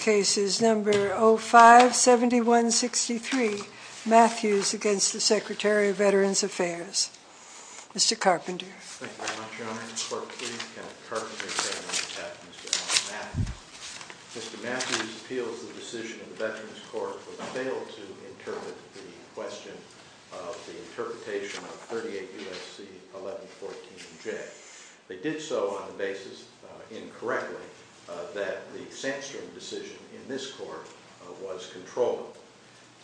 Case number 057163 Matthews v. Secretary of Veterans Affairs Mr. Carpenter Mr. Matthews appeals the decision of the Veterans Court for the fail to interpret the question of the interpretation of 38 U.S.C. 1114-J. They did so on the basis, incorrectly, that the Sandstrom decision in this court was controllable.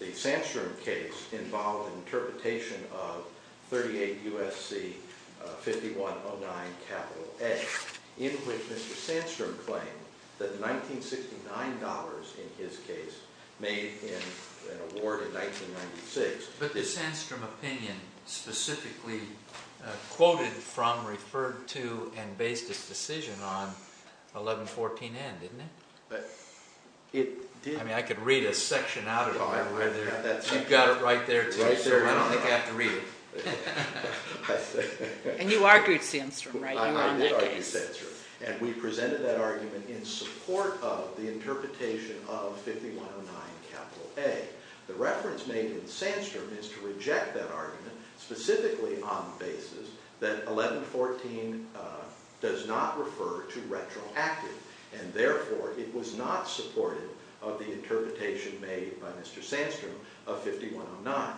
The Sandstrom case involved an interpretation of 38 U.S.C. 5109-A, in which Mr. Sandstrom claimed that $1969, in his case, made an award in 1996. But the Sandstrom opinion specifically quoted from, referred to, and based its decision on 1114-N, didn't it? It did. I mean, I could read a section out of it. No, I haven't got that section. You've got it right there, too. Right there. I don't think I have to read it. And you argued Sandstrom, right? I did argue Sandstrom. And we presented that argument in support of the interpretation of 5109-A. The reference made to the Sandstrom is to reject that argument specifically on the basis that 1114 does not refer to retroactive, and therefore, it was not supportive of the interpretation made by Mr. Sandstrom of 5109-A.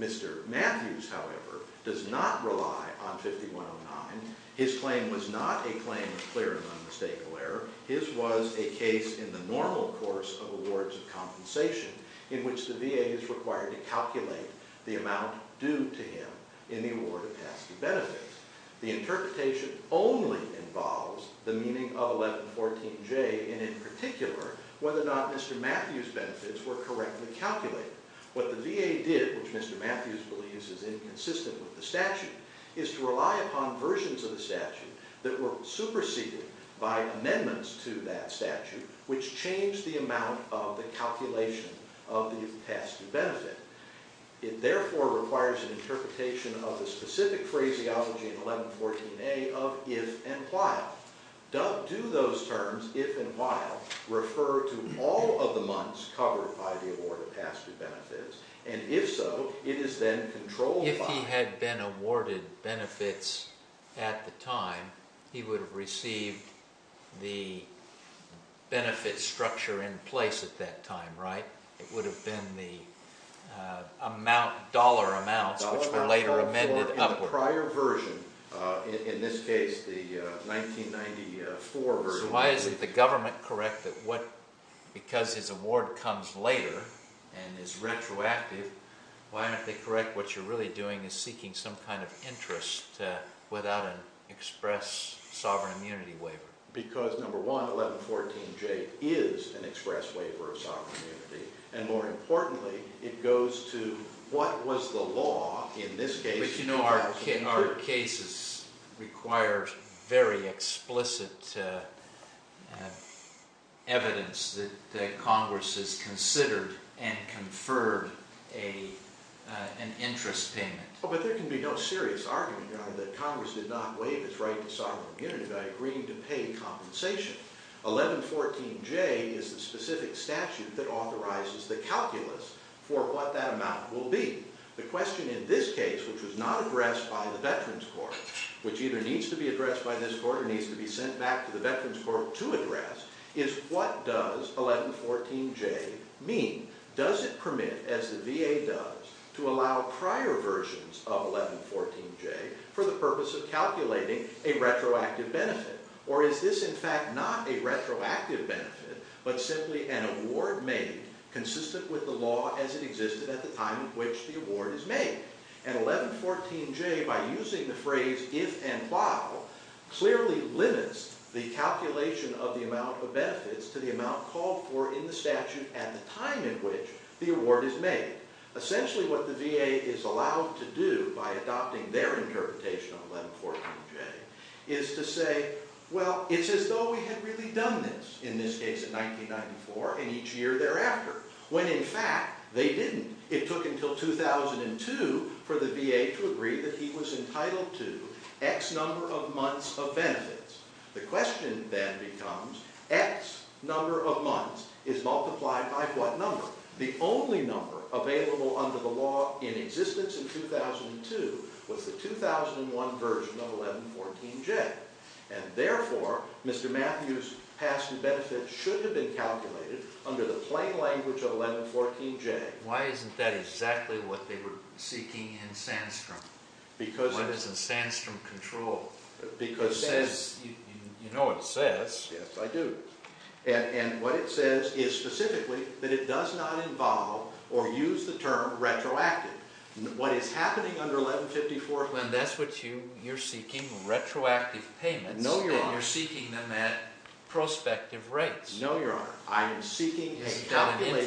Mr. Matthews, however, does not rely on 5109. His claim was not a claim of clear and unmistakable error. His was a case in the normal course of awards of compensation, in which the VA is required to calculate the amount due to him in the award of tasks and benefits. The interpretation only involves the meaning of 1114-J, and in particular, whether or not Mr. Matthews' benefits were correctly calculated. What the VA did, which Mr. Matthews believes is inconsistent with the statute, is to rely upon versions of the statute that were superseded by amendments to that statute, which changed the amount of the calculation of the tasks and benefit. It, therefore, requires an interpretation of the specific phraseology in 1114-A of if and while. Do those terms, if and while, refer to all of the months covered by the award of tasks and benefits? And if so, it is then controlled by... If he had been awarded benefits at the time, he would have received the benefit structure in place at that time, right? It would have been the dollar amounts, which were later amended upward. The prior version, in this case, the 1994 version... So why isn't the government correct that because his award comes later and is retroactive, why aren't they correct what you're really doing is seeking some kind of interest without an express sovereign immunity waiver? Because, number one, 1114-J is an express waiver of sovereign immunity. And more importantly, it goes to what was the law in this case... But, you know, our cases require very explicit evidence that Congress has considered and conferred an interest payment. Well, but there can be no serious argument, Your Honor, that Congress did not waive its right to sovereign immunity by agreeing to pay compensation. 1114-J is the specific statute that authorizes the calculus for what that amount will be. The question in this case, which was not addressed by the Veterans Court, which either needs to be addressed by this Court or needs to be sent back to the Veterans Court to address, is what does 1114-J mean? Does it permit, as the VA does, to allow prior versions of 1114-J for the purpose of calculating a retroactive benefit? Or is this, in fact, not a retroactive benefit, but simply an award made consistent with the statute that existed at the time in which the award is made? And 1114-J, by using the phrase if and while, clearly limits the calculation of the amount of benefits to the amount called for in the statute at the time in which the award is made. Essentially, what the VA is allowed to do by adopting their interpretation of 1114-J is to say, well, it's as though we had really done this, in this case in 1994 and each year thereafter, when in fact they didn't. It took until 2002 for the VA to agree that he was entitled to X number of months of benefits. The question then becomes, X number of months is multiplied by what number? The only number available under the law in existence in 2002 was the 2001 version of 1114-J. And therefore, Mr. Matthews' past benefit should have been calculated under the plain language of 1114-J. Why isn't that exactly what they were seeking in Sandstrom? What is a Sandstrom control? Because it says, you know it says. Yes, I do. And what it says is specifically that it does not involve or use the term retroactive. What is happening under 1154-J... Well, then that's what you're seeking, retroactive payments. No, Your Honor. And you're seeking them at prospective rates. No, Your Honor. I am seeking a calculation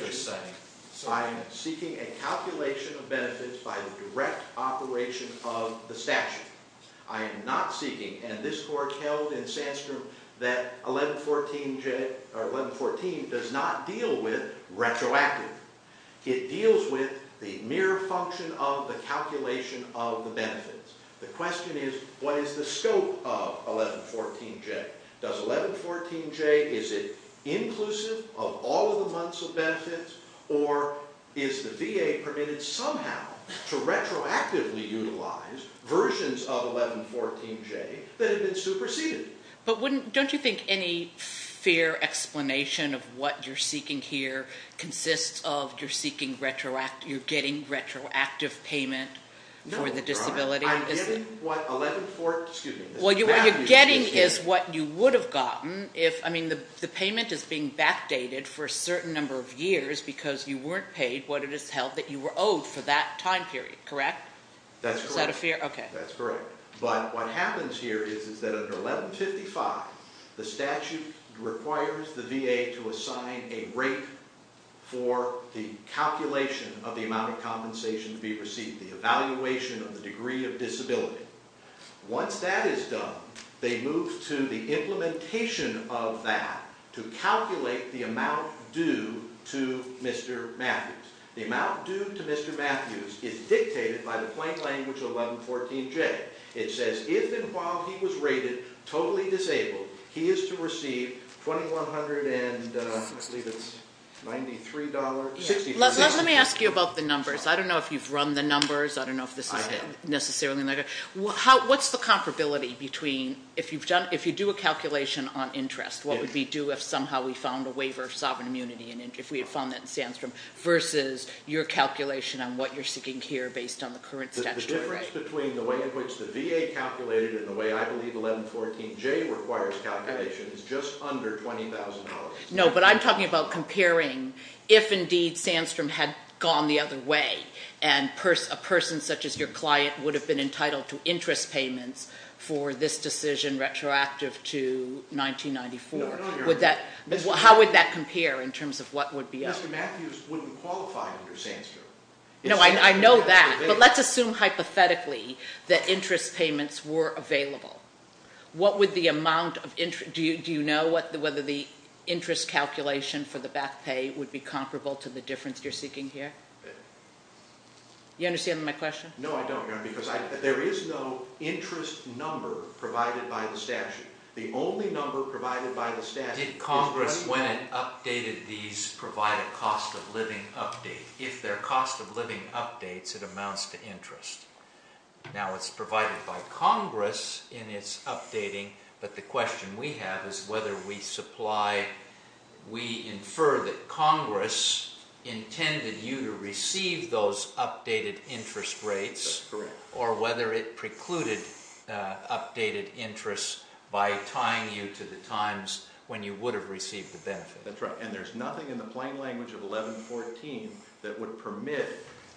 of benefits by the direct operation of the statute. I am not seeking, and this court held in Sandstrom that 1114-J or 1114 does not deal with retroactive. It deals with the mere function of the calculation of the benefits. The question is, what is the scope of 1114-J? Does 1114-J, is it inclusive of all of the months of benefits? Or is the VA permitted somehow to retroactively utilize versions of 1114-J that have been superseded? But don't you think any fair explanation of what you're seeking here consists of you're getting retroactive payment for the disability? No, Your Honor. I'm getting what 1114, excuse me. Well, what you're getting is what you would have gotten if, I mean the payment is being backdated for a certain number of years because you weren't paid what it is held that you were owed for that time period, correct? That's correct. Is that a fair, okay. That's correct. But what happens here is that under 1155, the statute requires the VA to assign a rate for the calculation of the amount of compensation to be received, the evaluation of the degree of disability. Once that is done, they move to the implementation of that to calculate the amount due to Mr. Matthews. The amount due to Mr. Matthews is dictated by the plain language of 1114-J. It says if and while he was rated totally disabled, he is to receive $2,193.63. Let me ask you about the numbers. I don't know if you've run the numbers. I don't know if this is necessarily. What's the comparability between, if you do a calculation on interest, what would we do if somehow we found a waiver of sovereign immunity and if we had found that in Sandstrom versus your calculation on what you're seeking here based on the current statute, right? The difference between the way in which the VA calculated it and the way I believe 1114-J requires calculations is just under $20,000. No, but I'm talking about comparing if indeed Sandstrom had gone the other way and a person such as your client would have been entitled to interest payments for this decision retroactive to 1994. How would that compare in terms of what would be up? Mr. Matthews wouldn't qualify under Sandstrom. No, I know that, but let's assume hypothetically that interest payments were available. Do you know whether the interest calculation for the back pay would be comparable to the difference you're seeking here? You understand my question? No, I don't, because there is no interest number provided by the statute. The only number provided by the statute. Did Congress, when it updated these, provide a cost-of-living update? If they're cost-of-living updates, it amounts to interest. Now, it's provided by Congress in its updating, but the question we have is whether we supply, we infer that Congress intended you to receive those updated interest rates. That's correct. Or whether it precluded updated interest by tying you to the times when you would have received the benefit. That's right, and there's nothing in the plain language of 1114 that would permit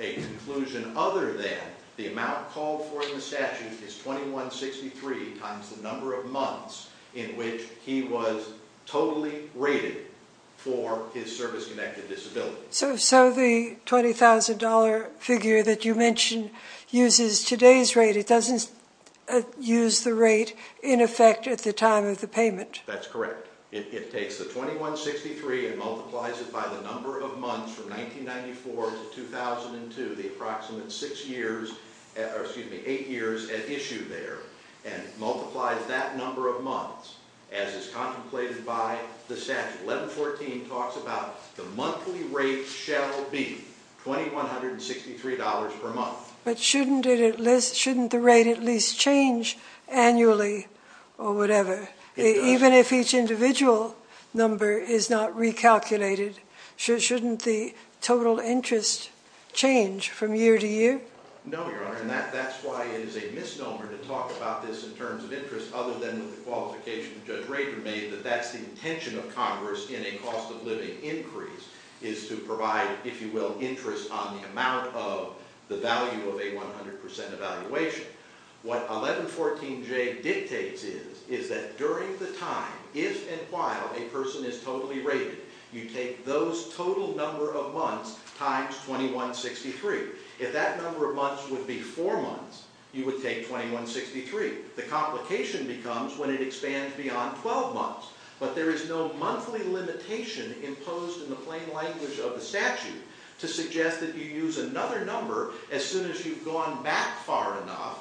a conclusion other than the amount called for in the statute is 2163 times the number of months in which he was totally rated for his service-connected disability. So the $20,000 figure that you mentioned uses today's rate. It doesn't use the rate in effect at the time of the payment. That's correct. It takes the 2163 and multiplies it by the number of months from 1994 to 2002, the approximate eight years at issue there, and multiplies that number of months as is contemplated by the statute. 1114 talks about the monthly rate shall be $2,163 per month. But shouldn't the rate at least change annually or whatever? It does. If this individual number is not recalculated, shouldn't the total interest change from year to year? No, Your Honor, and that's why it is a misnomer to talk about this in terms of interest other than the qualification Judge Rayburn made that that's the intention of Congress in a cost-of-living increase is to provide, if you will, interest on the amount of the value of a 100% evaluation. What 1114J dictates is that during the time, if and while, a person is totally rated, you take those total number of months times 2163. If that number of months would be four months, you would take 2163. The complication becomes when it expands beyond 12 months. But there is no monthly limitation imposed in the plain language of the statute to suggest that you use another number as soon as you've gone back far enough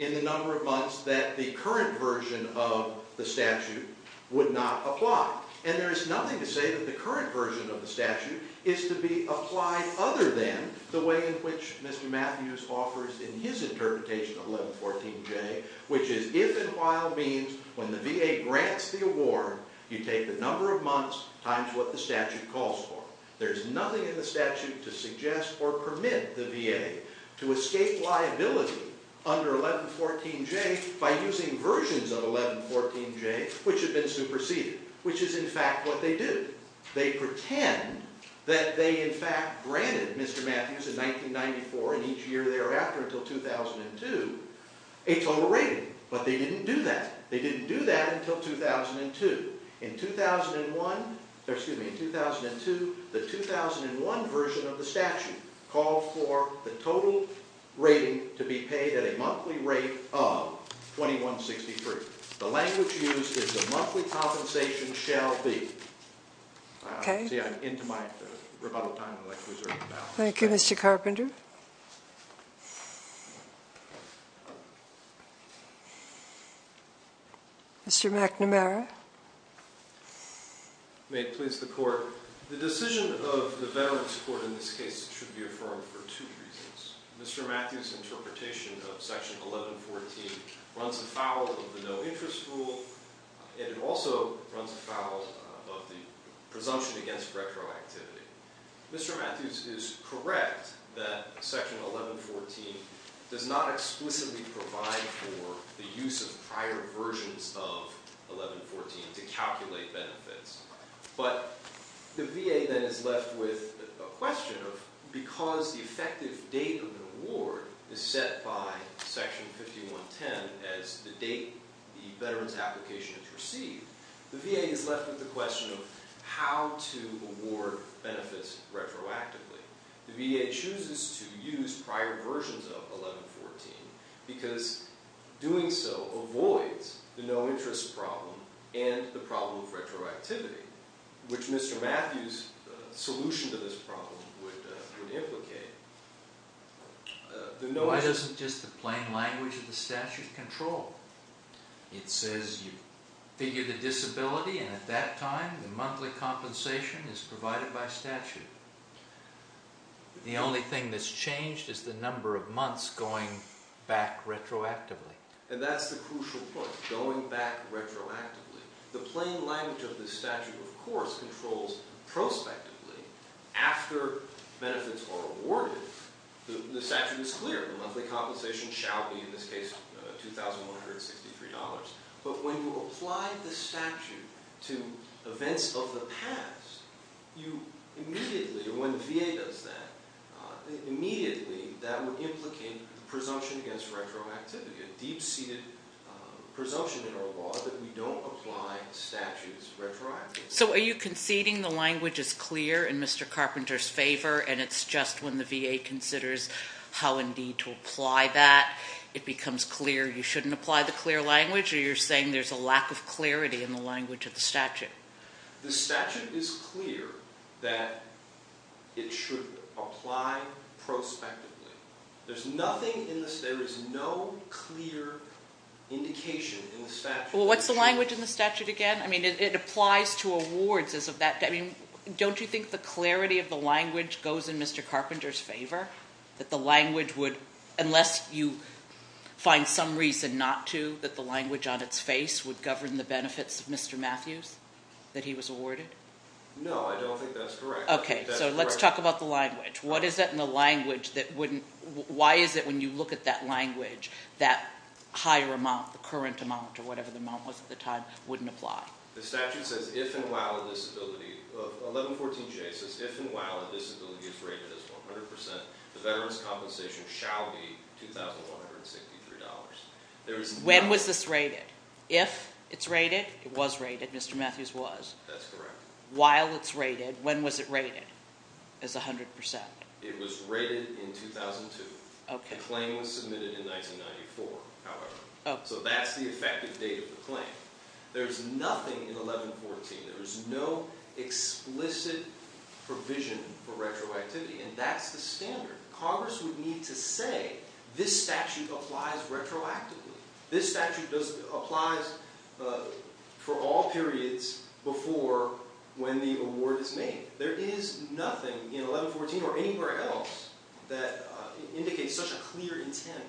in the number of months that the current version of the statute would not apply. And there is nothing to say that the current version of the statute is to be applied other than the way in which Mr. Matthews offers in his interpretation of 1114J, which is if and while means when the VA grants the award, you take the number of months times what the statute calls for. There's nothing in the statute to suggest or permit the VA to escape liability under 1114J by using versions of 1114J which have been superseded, which is, in fact, what they do. They pretend that they, in fact, granted Mr. Matthews in 1994 and each year thereafter until 2002 a total rating. But they didn't do that. They didn't do that until 2002. In 2001, excuse me, in 2002, the 2001 version of the statute called for the total rating to be paid at a monthly rate of 2163. The language used is the monthly compensation shall be. See, I'm into my rebuttal time. I'd like to reserve that. Thank you, Mr. Carpenter. Mr. McNamara. May it please the Court. The decision of the Veterans Court in this case should be affirmed for two reasons. Mr. Matthews' interpretation of Section 1114 runs afoul of the no-interest rule, and it also runs afoul of the presumption against retroactivity. Mr. Matthews is correct that Section 1114 does not explicitly provide for the use of prior versions of 1114 to calculate benefits. But the VA then is left with a question of, because the effective date of the award is set by Section 5110 as the date the veteran's application is received, the VA is left with the question of how to award benefits retroactively. The VA chooses to use prior versions of 1114 because doing so avoids the no-interest problem and the problem of retroactivity, which Mr. Matthews' solution to this problem would implicate. Why doesn't just the plain language of the statute control? It says you figure the disability, and at that time the monthly compensation is provided by statute. The only thing that's changed is the number of months going back retroactively. And that's the crucial point, going back retroactively. The plain language of the statute, of course, controls prospectively. After benefits are awarded, the statute is clear. The monthly compensation shall be, in this case, $2,163. But when you apply the statute to events of the past, you immediately, or when the VA does that, immediately that would implicate presumption against retroactivity, a deep-seated presumption in our law that we don't apply statutes retroactively. So are you conceding the language is clear in Mr. Carpenter's favor, and it's just when the VA considers how indeed to apply that, it becomes clear you shouldn't apply the clear language? Or you're saying there's a lack of clarity in the language of the statute? The statute is clear that it should apply prospectively. There is no clear indication in the statute. Well, what's the language in the statute again? I mean, it applies to awards. I mean, don't you think the clarity of the language goes in Mr. Carpenter's favor, that the language would, unless you find some reason not to, that the language on its face would govern the benefits of Mr. Matthews, that he was awarded? No, I don't think that's correct. Okay, so let's talk about the language. What is it in the language that wouldn't – why is it when you look at that language, that higher amount, the current amount or whatever the amount was at the time, wouldn't apply? The statute says if and while a disability – 1114J says if and while a disability is rated as 100%, the veteran's compensation shall be $2,163. When was this rated? If it's rated, it was rated. Mr. Matthews was. That's correct. While it's rated, when was it rated as 100%? It was rated in 2002. The claim was submitted in 1994, however. So that's the effective date of the claim. There's nothing in 1114. There is no explicit provision for retroactivity, and that's the standard. Congress would need to say this statute applies retroactively. This statute applies for all periods before when the award is made. There is nothing in 1114 or anywhere else that indicates such a clear intent.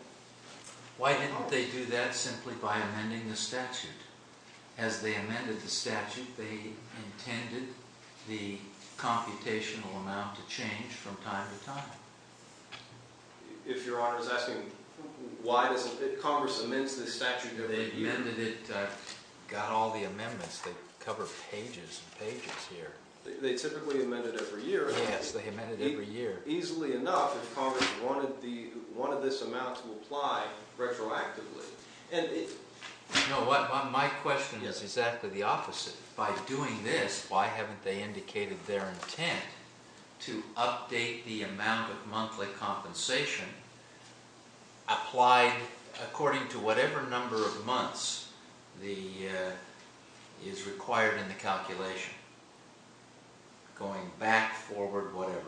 Why didn't they do that simply by amending the statute? As they amended the statute, they intended the computational amount to change from time to time. If Your Honor is asking why doesn't Congress amend this statute every year? They amended it, got all the amendments that cover pages and pages here. They typically amend it every year. Yes, they amend it every year. Easily enough, if Congress wanted this amount to apply retroactively. My question is exactly the opposite. By doing this, why haven't they indicated their intent to update the amount of monthly compensation applied according to whatever number of months is required in the calculation? Going back, forward, whatever.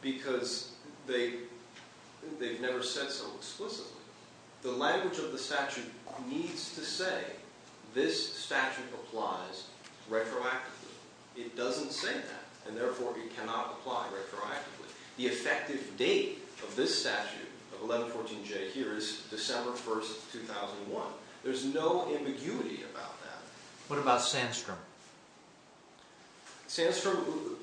Because they've never said so explicitly. The language of the statute needs to say this statute applies retroactively. It doesn't say that, and therefore it cannot apply retroactively. The effective date of this statute of 1114J here is December 1, 2001. There's no ambiguity about that. What about Sandstrom? Sandstrom, who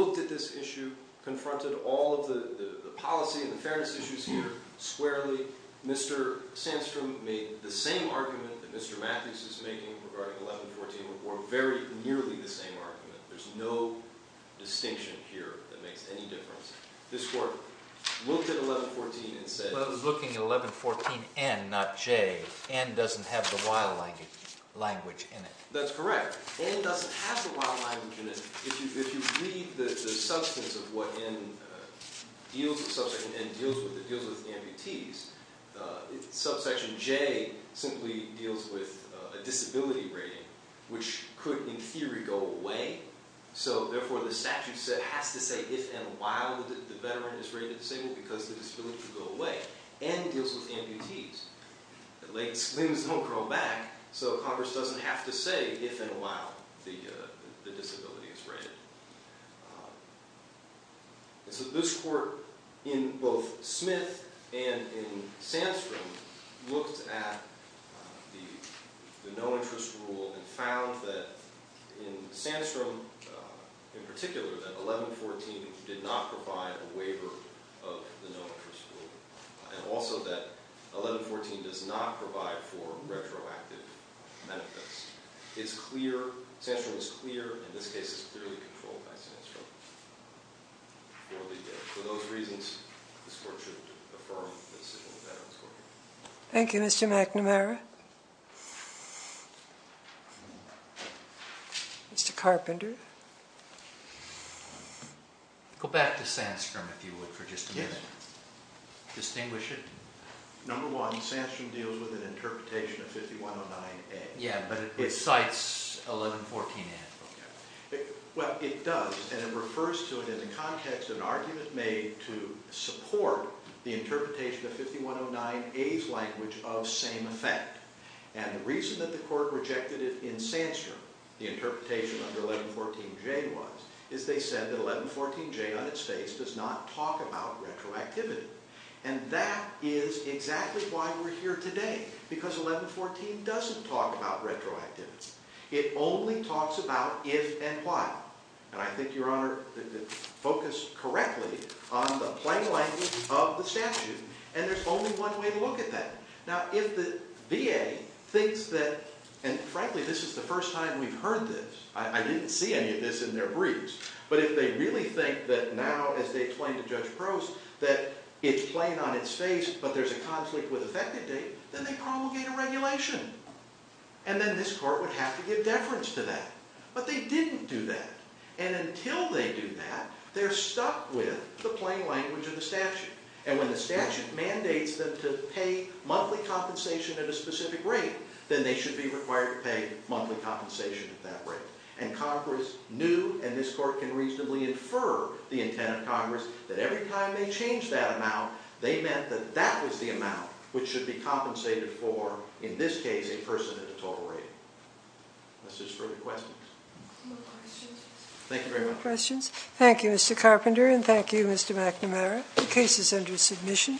looked at this issue, confronted all of the policy and fairness issues here squarely. Mr. Sandstrom made the same argument that Mr. Matthews is making regarding 1114, or very nearly the same argument. There's no distinction here that makes any difference. This Court looked at 1114 and said- But it was looking at 1114N, not J. N doesn't have the Y language in it. That's correct. N doesn't have the Y language in it. If you read the substance of what N deals with, subsection N deals with, it deals with amputees. Subsection J simply deals with a disability rating, which could, in theory, go away. So, therefore, the statute has to say if and while the veteran is rated disabled, because the disability could go away. N deals with amputees. Limbs don't curl back, so Congress doesn't have to say if and while the disability is rated. This Court, in both Smith and in Sandstrom, looked at the no-interest rule and found that, in Sandstrom in particular, that 1114 did not provide a waiver of the no-interest rule. And also that 1114 does not provide for retroactive benefits. It's clear, Sandstrom is clear, and this case is clearly controlled by Sandstrom. For those reasons, this Court should affirm the Disability Veterans Court. Thank you, Mr. McNamara. Mr. Carpenter. Go back to Sandstrom, if you would, for just a minute. Yes. Distinguish it. Number one, Sandstrom deals with an interpretation of 5109A. Yes, but it cites 1114A. Well, it does, and it refers to it in the context of an argument made to support the interpretation of 5109A's language of same effect. And the reason that the Court rejected it in Sandstrom, the interpretation under 1114J was, is they said that 1114J, on its face, does not talk about retroactivity. And that is exactly why we're here today, because 1114 doesn't talk about retroactivity. It only talks about if and why. And I think your Honor focused correctly on the plain language of the statute. And there's only one way to look at that. Now, if the VA thinks that, and frankly, this is the first time we've heard this. I didn't see any of this in their briefs. But if they really think that now, as they explain to Judge Prost, that it's plain on its face, but there's a conflict with effective date, then they promulgate a regulation. And then this Court would have to give deference to that. But they didn't do that. And until they do that, they're stuck with the plain language of the statute. And when the statute mandates them to pay monthly compensation at a specific rate, then they should be required to pay monthly compensation at that rate. And Congress knew, and this Court can reasonably infer the intent of Congress, that every time they changed that amount, they meant that that was the amount which should be compensated for, in this case, a person at a total rate. Unless there's further questions. No questions. Thank you very much. No questions. Thank you, Mr. Carpenter, and thank you, Mr. McNamara. The case is under submission.